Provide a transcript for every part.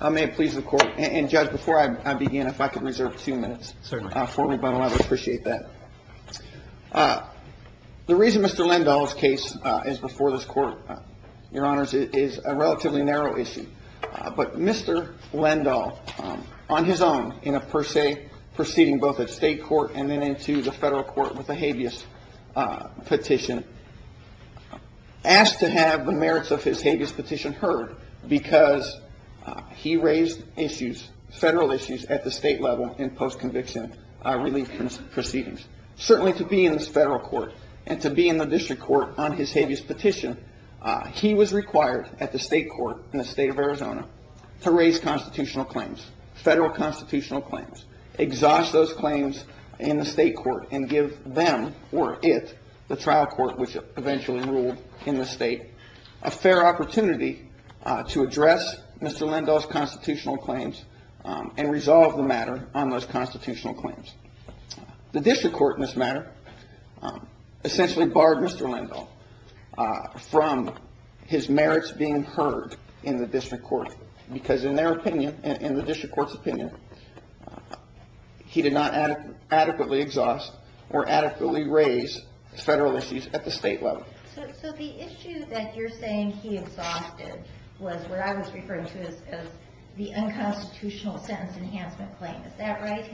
I may please the court and judge before I begin if I could reserve two minutes certainly for me but I'd appreciate that. The reason Mr. Lendahl's case is before this court your honors is a relatively narrow issue but Mr. Lendahl on his own in a per se proceeding both at state court and then into the federal court with a habeas petition asked to have the merits of his habeas petition heard because he raised issues federal issues at the state level in post-conviction relief proceedings. Certainly to be in this federal court and to be in the district court on his habeas petition he was required at the state court in the state of Arizona to raise constitutional claims federal constitutional claims exhaust those claims in the state court and give them or it the trial court which eventually ruled in the state a fair opportunity to address Mr. Lendahl's constitutional claims and resolve the matter on those constitutional claims. The district court in this matter essentially barred Mr. Lendahl from his merits being heard in the district court because in their opinion in the district court's opinion he did not adequately exhaust or adequately raise federal claims at the state level. So the issue that you're saying he exhausted was where I was referring to as the unconstitutional sentence enhancement claim. Is that right?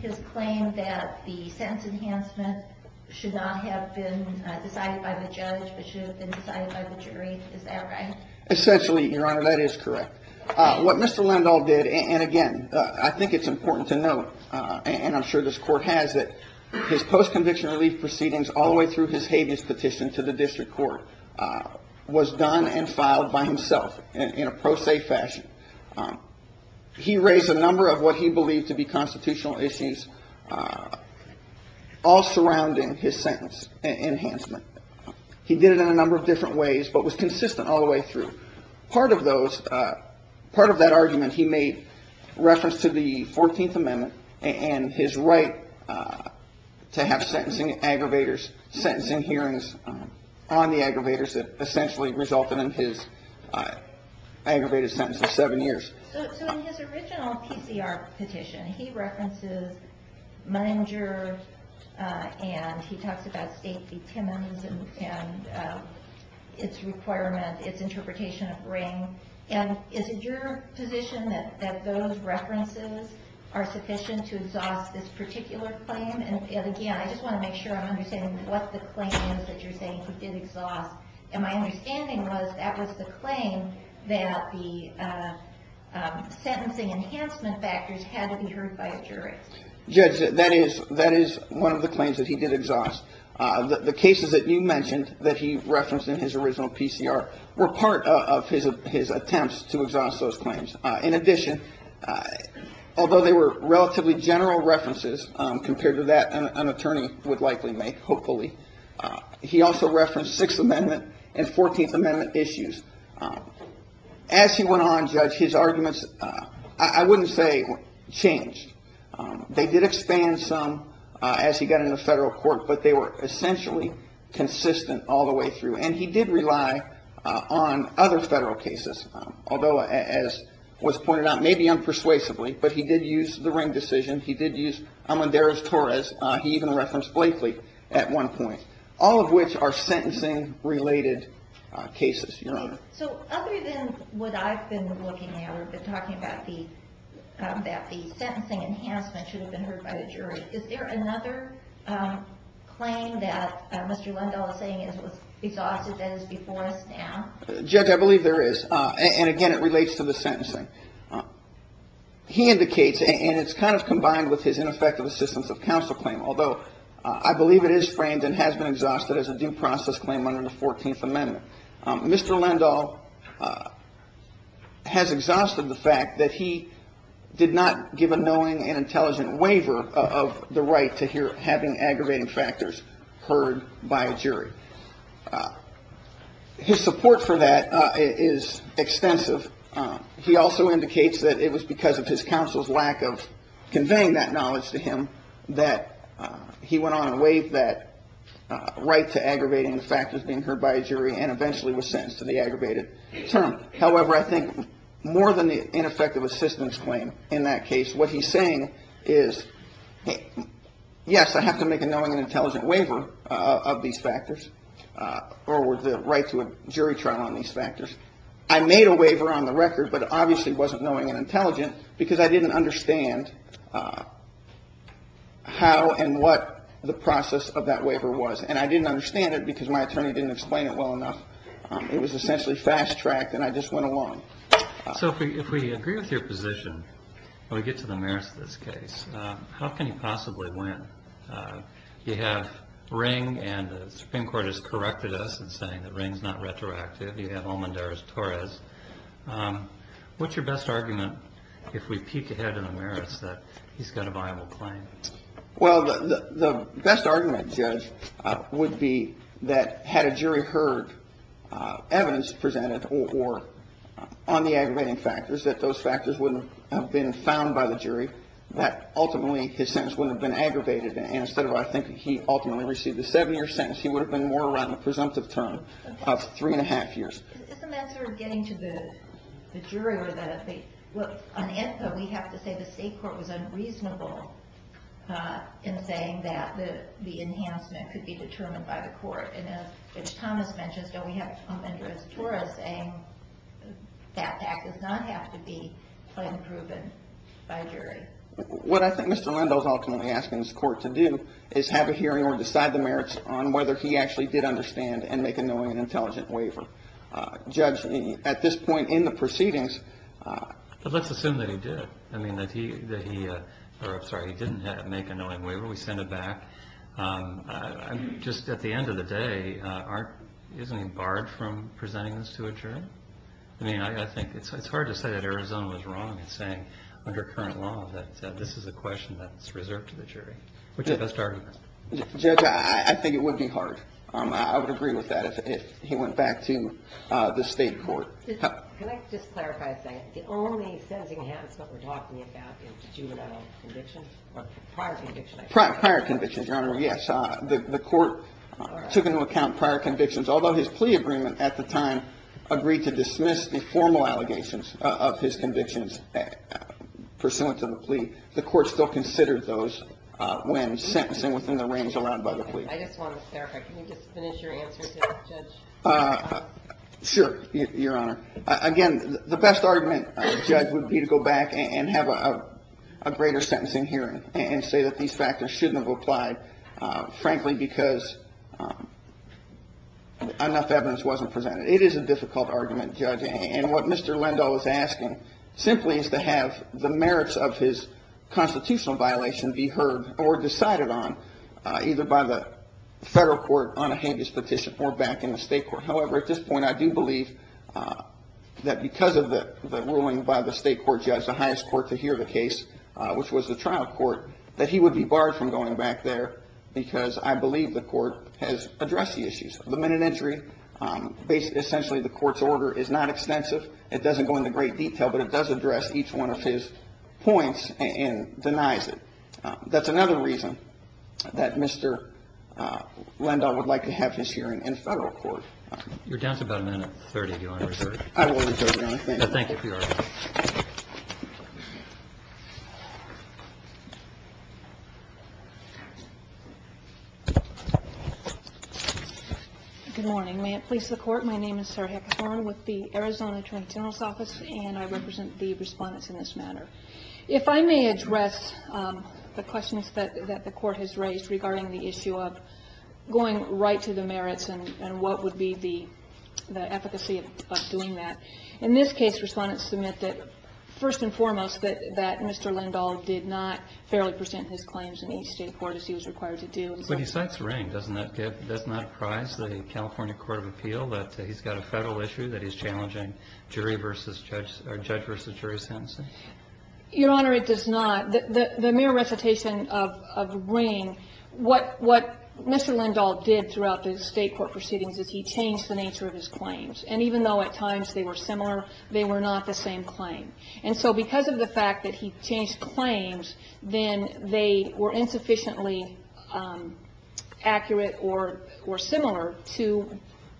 His claim that the sentence enhancement should not have been decided by the judge but should have been decided by the jury. Is that right? Essentially your honor that is correct. What Mr. Lendahl did and again I think it's important to note and I'm sure this court has it his post conviction relief proceedings all the way through his habeas petition to the district court was done and filed by himself in a pro se fashion. He raised a number of what he believed to be constitutional issues all surrounding his sentence enhancement. He did it in a number of different ways but was consistent all the way through. Part of those, part of that argument he made reference to the 14th amendment and his right to have sentencing aggravators, sentencing hearings on the aggravators that essentially resulted in his aggravated sentence of 7 years. So in his original PCR petition he references Munger and he talks about state detainment and its requirement, its interpretation of ring. And is it your position that those references are sufficient to exhaust this particular claim? Again I just want to make sure I'm understanding what the claim is that you're saying he did exhaust. And my understanding was that was the claim that the sentencing enhancement factors had to be heard by a jury. Judge that is one of the claims that he did exhaust. The cases that you mentioned that he referenced in his original PCR were part of his attempts to exhaust those claims. In addition, although they were relatively general references compared to that an attorney would likely make, hopefully, he also referenced 6th amendment and 14th amendment issues. As he went on, Judge, his arguments I wouldn't say changed. They did expand some as he got into federal court but they were essentially consistent all the way through. And he did rely on other federal cases, although as was pointed out, maybe unpersuasively, but he did use the ring decision. He did use Amadeus Torres. He even referenced Blakely at one point. All of which are sentencing related cases, Your Honor. So other than what I've been looking at and talking about that the sentencing enhancement should have been heard by the jury, is there another claim that Mr. Lindahl is saying was exhausted and is before us now? Judge, I believe there is. And again it relates to the sentencing. He indicates, and it's kind of combined with his ineffective assistance of counsel claim, although I believe it is framed and has been exhausted as a due process claim under the 14th amendment. Mr. Lindahl has exhausted the fact that he did not give a knowing and intelligent waiver of the right to having aggravating factors heard by a jury. His support for that is extensive. He also indicates that it was because of his counsel's lack of conveying that knowledge to him that he went on and waived that right to aggravating factors being heard by a jury and eventually was sentenced to the aggravated term. However, I think more than the ineffective assistance claim in that case, what he's saying is, yes, I have to make a knowing and intelligent waiver of these factors or the right to a jury trial on these factors. I made a waiver on the record, but it obviously wasn't knowing and intelligent because I didn't understand how and what the process of that waiver was. And I didn't understand it because my attorney didn't explain it well enough. It was essentially fast-tracked and I just went along. So if we agree with your position, when we get to the merits of this case, how can he possibly win? You have Ring and the Supreme Court has corrected us in saying that Ring's not retroactive. You have Almendarez-Torres. What's your best argument if we peek ahead in the merits that he's got a viable claim? Well, the best argument, Judge, would be that had a jury heard evidence presented on the aggravating factors, that those factors wouldn't have been found by the jury, that ultimately his sentence wouldn't have been aggravated. And instead of, I think, he ultimately received a seven-year sentence, he would have been more around the presumptive term of three and a half years. Isn't that sort of getting to the jury? On ENCA, we have to say the state court was unreasonable in saying that the enhancement could be determined by the court. And as Judge Thomas mentions, don't we have Almendarez-Torres saying that fact does not have to be proven by a jury? What I think Mr. Lindo is ultimately asking his court to do is have a hearing or decide the merits on whether he actually did understand and make a knowing and intelligent waiver. Judge, at this point in the proceedings... But let's assume that he did. I mean, that he, or I'm sorry, he didn't make a knowing waiver. We send it back. Just at the end of the day, isn't he barred from presenting this to a jury? I mean, I think it's hard to say that Arizona was wrong in saying under current law that this is a question that's reserved to the jury. Which is the best argument? Judge, I think it would be hard. I would agree with that if he went back to the state court. Can I just clarify a second? The only sentencing enhancements we're talking about is juvenile convictions or prior convictions? Prior convictions, Your Honor, yes. The court took into account prior convictions. Although his plea agreement at the time agreed to dismiss the formal allegations of his convictions pursuant to the plea, the court still considered those when sentencing within the range allowed by the plea. I just want to clarify. Can you just finish your answer, Judge? Sure, Your Honor. Again, the best argument, Judge, would be to go back and have a greater sentencing hearing and say that these factors shouldn't have applied, frankly, because enough evidence wasn't presented. It is a difficult argument, Judge. And what Mr. Lindahl is asking simply is to have the merits of his constitutional violation be heard or decided on, either by the federal court on a habeas petition or back in the state court. However, at this point, I do believe that because of the ruling by the state court judge, the highest court to hear the case, which was the trial court, that he would be barred from going back there because I believe the court has addressed the issues. The minute entry, essentially the court's order is not extensive. It doesn't go into great detail, but it does address each one of his points and denies it. That's another reason that Mr. Lindahl would like to have his hearing in federal court. Your time is about a minute and 30. Do you want to return? Good morning. May it please the court. My name is with the Arizona attorney general's office and I represent the respondents in this matter. If I may address the questions that the court has raised regarding the issue of going right to the merits and what would be the efficacy of doing that. In this case, respondents submit that, first and foremost, that Mr. Lindahl did not fairly present his claims in each state court as he was required to do. But he cites Ring. Doesn't that give, doesn't that apprise the California court of appeal that he's got a federal issue that he's challenging jury versus judge or judge versus jury sentencing? Your Honor, it does not. The mere recitation of Ring, what Mr. Lindahl did throughout the state court proceedings is he changed the nature of his claims. And even though at times they were similar, they were not the same claim. And so because of the fact that he changed claims, then they were insufficiently accurate or similar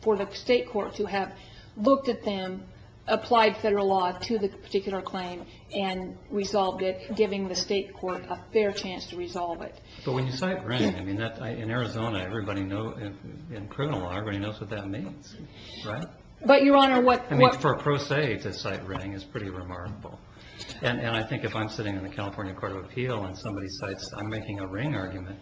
for the state court to have looked at them, applied federal law to the particular claim and resolved it, giving the state court a fair chance to resolve it. But when you cite Ring, I mean, in Arizona, everybody knows, in criminal law, everybody knows what that means, right? But, Your Honor, what... I mean, for a pro se to cite Ring is pretty remarkable. And I think if I'm sitting in the California court of appeal and somebody cites, I'm making a Ring argument,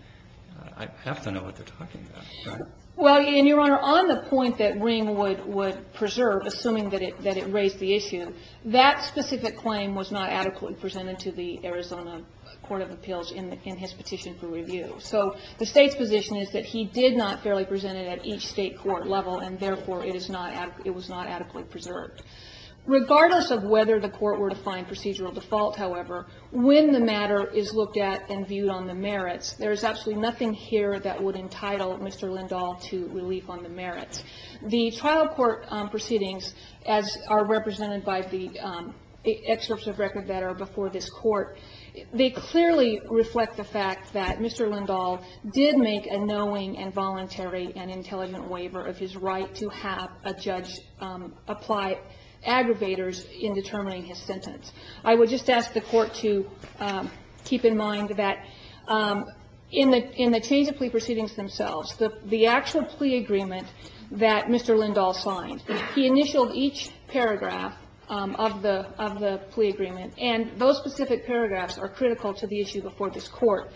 I have to know what they're talking about, right? Well, and, Your Honor, on the point that Ring would preserve, assuming that it raised the issue, that specific claim was not adequately presented to the Arizona court of appeals in his petition for review. So the State's position is that he did not fairly present it at each state court level, and, therefore, it was not adequately preserved. Regardless of whether the court were to find procedural default, however, when the matter is looked at and viewed on the merits, there is absolutely nothing here that would entitle Mr. Lindahl to relief on the merits. The trial court proceedings, as are represented by the excerpts of record that are before this court, they clearly reflect the fact that Mr. Lindahl did make a knowing and voluntary and intelligent waiver of his right to have a judge apply aggravators in determining his sentence. I would just ask the court to keep in mind that in the change of plea proceedings themselves, the actual plea agreement that Mr. Lindahl signed, he initialed each paragraph of the plea agreement, and those specific paragraphs are critical to the issue before this court.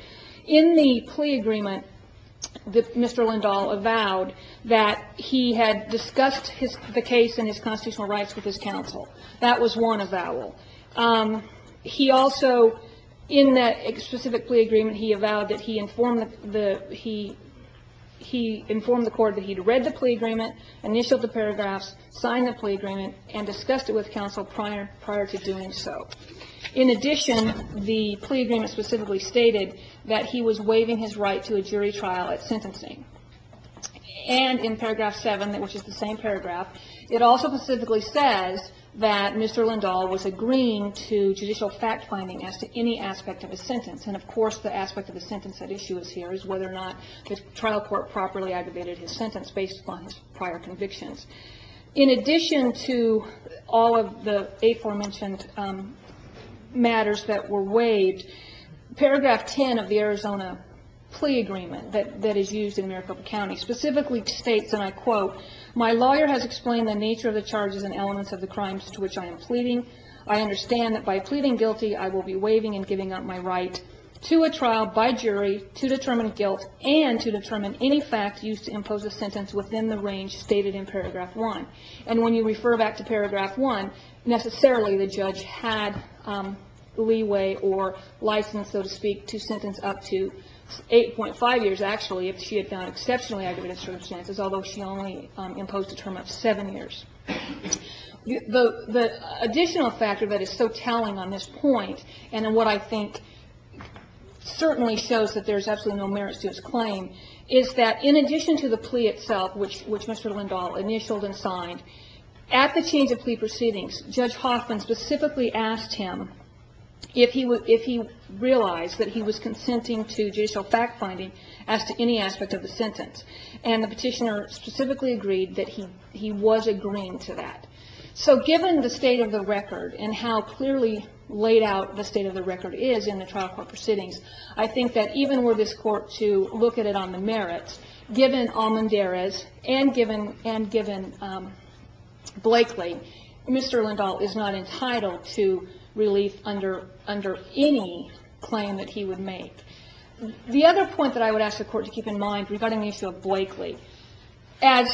In the plea agreement, Mr. Lindahl avowed that he had discussed the case and his constitutional rights with his counsel. That was one avowal. He also, in that specific plea agreement, he avowed that he informed the court that he had read the plea agreement, initialed the paragraphs, signed the plea agreement, and discussed it with counsel prior to doing so. In addition, the plea agreement specifically stated that he was waiving his right to a jury trial at sentencing. And in paragraph seven, which is the same paragraph, it also specifically says that Mr. Lindahl was agreeing to judicial fact-finding as to any aspect of his sentence. And, of course, the aspect of the sentence at issue is here, is whether or not the trial court properly aggravated his sentence based upon his prior convictions. In addition to all of the aforementioned matters that were waived, paragraph 10 of the Arizona plea agreement that is used in Maricopa County specifically states, and I quote, my lawyer has explained the nature of the charges and elements of the crimes to which I am pleading. I understand that by pleading guilty, I will be waiving and giving up my right to a trial by jury to determine guilt and to determine any fact used to impose a sentence within the range stated in paragraph one. And when you refer back to paragraph one, necessarily the judge had leeway or license, so to speak, to sentence up to 8.5 years, actually, if she had found exceptionally aggravated circumstances, although she only imposed a term of seven years. The additional factor that is so telling on this point, and what I think certainly shows that there's absolutely no merits to his claim, is that in addition to the plea itself, which Mr. Lindahl initialed and signed, at the change of plea proceedings, Judge Hoffman specifically asked him if he realized that he was consenting to judicial fact-finding as to any aspect of the sentence. And the petitioner specifically agreed that he was agreeing to that. So given the state of the record and how clearly laid out the state of the record is in the trial court proceedings, I think that even were this Court to look at it on the merits, given Almendarez and given Blakely, Mr. Lindahl is not entitled to relief under any claim that he would make. The other point that I would ask the Court to keep in mind regarding the issue of Blakely, as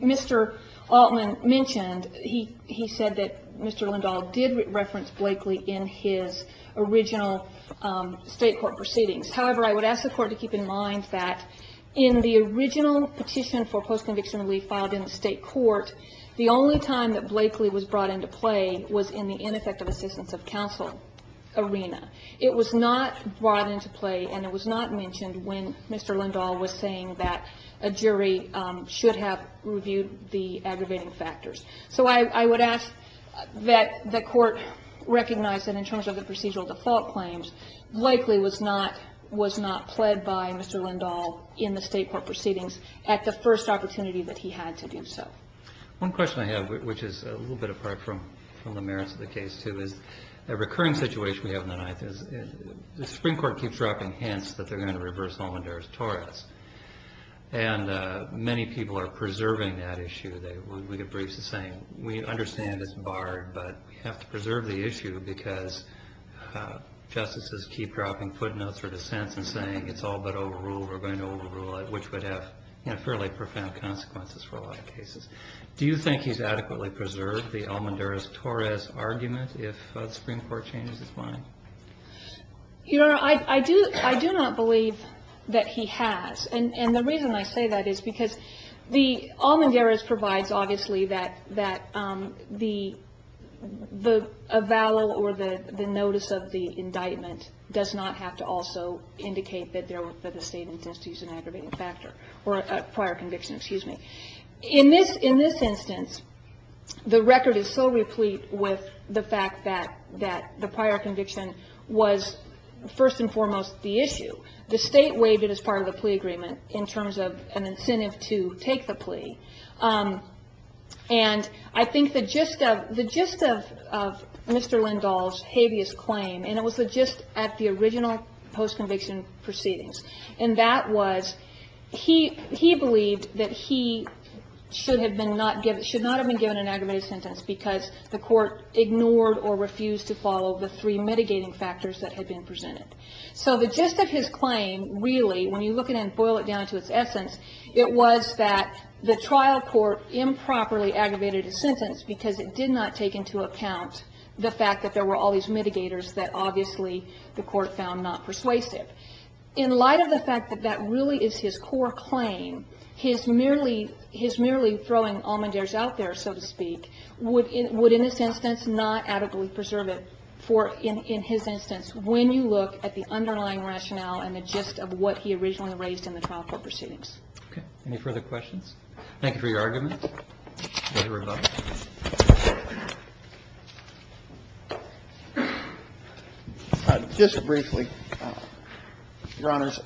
Mr. Altman mentioned, he said that Mr. Lindahl did reference Blakely in his original state court proceedings. However, I would ask the Court to keep in mind that in the original petition for post-conviction relief filed in the state court, the only time that Blakely was brought into play was in the ineffective assistance of counsel arena. It was not brought into play, and it was not mentioned when Mr. Lindahl was saying that a jury should have reviewed the aggravating factors. So I would ask that the Court recognize that in terms of the procedural default claims, Blakely was not pled by Mr. Lindahl in the state court proceedings at the first opportunity that he had to do so. One question I have, which is a little bit apart from the merits of the case, too, is a recurring situation we have in the Ninth is the Supreme Court keeps dropping hints that they're going to reverse Almendarez-Torres. And many people are preserving that issue. We get briefs saying, we understand it's barred, but we have to preserve the issue because justices keep dropping footnotes or dissents and saying it's all but overruled, we're going to overrule it, which would have fairly profound consequences for a lot of cases. Do you think he's adequately preserved the Almendarez-Torres argument if the Supreme Court changes its mind? Your Honor, I do not believe that he has. And the reason I say that is because the Almendarez provides, obviously, that the avowal or the notice of the indictment does not have to also indicate that the state intends to use an aggravated factor or a prior conviction, excuse me. In this instance, the record is so replete with the fact that the prior conviction was first and foremost the issue. The state waived it as part of the plea agreement in terms of an incentive to take the plea. And I think the gist of Mr. Lindahl's habeas claim, and it was the gist at the original post-conviction proceedings, and that was he believed that he should not have been given an aggravated sentence because the court ignored or refused to follow the three mitigating factors that had been presented. So the gist of his claim, really, when you look at it and boil it down to its essence, it was that the trial court improperly aggravated his sentence because it did not take into account the fact that there were all these mitigators that, obviously, the court found not persuasive. In light of the fact that that really is his core claim, his merely throwing Almendarez out there, so to speak, would, in this instance, not adequately preserve it for, in his instance, when you look at the underlying rationale and the gist of what he originally raised in the trial court proceedings. Okay. Any further questions? Thank you for your argument. Further rebuttal? Just briefly, Your Honors,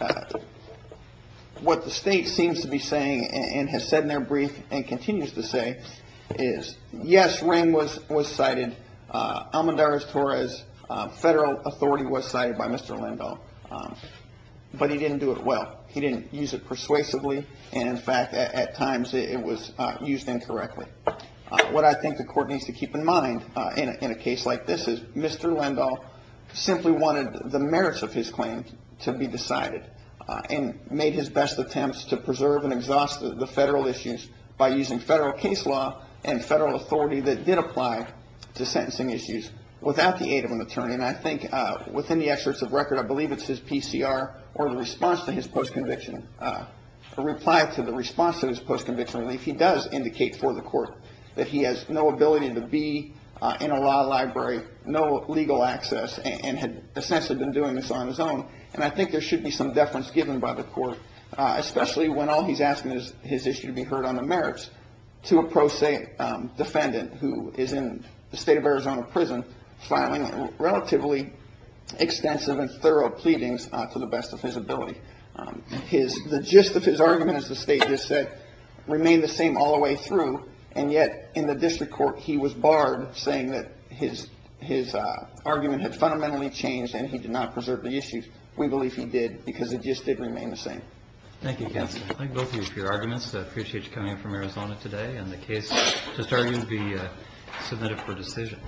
what the state seems to be saying and has said in their brief and continues to say is, yes, Rehm was cited. Almendarez-Torres federal authority was cited by Mr. Lindahl, but he didn't do it well. He didn't use it persuasively, and, in fact, at times it was used incorrectly. What I think the court needs to keep in mind in a case like this is Mr. Lindahl simply wanted the merits of his claim to be decided and made his best attempts to preserve and exhaust the federal issues by using federal case law and federal authority that did apply to sentencing issues without the aid of an attorney. And I think within the excerpts of record, I believe it's his PCR or the response to his post-conviction, a reply to the response to his post-conviction relief, he does indicate for the court that he has no ability to be in a law library, no legal access, and had essentially been doing this on his own. And I think there should be some deference given by the court, especially when all he's asking is his issue to be heard on the merits to a pro se defendant who is in the state of Arizona prison filing relatively extensive and thorough pleadings to the best of his ability. The gist of his argument, as the state just said, remained the same all the way through, and yet in the district court he was barred saying that his argument had fundamentally changed and he did not preserve the issues. We believe he did because the gist did remain the same. Thank you, counsel. I thank both of you for your arguments. I appreciate you coming in from Arizona today and the case to start would be submitted for decision.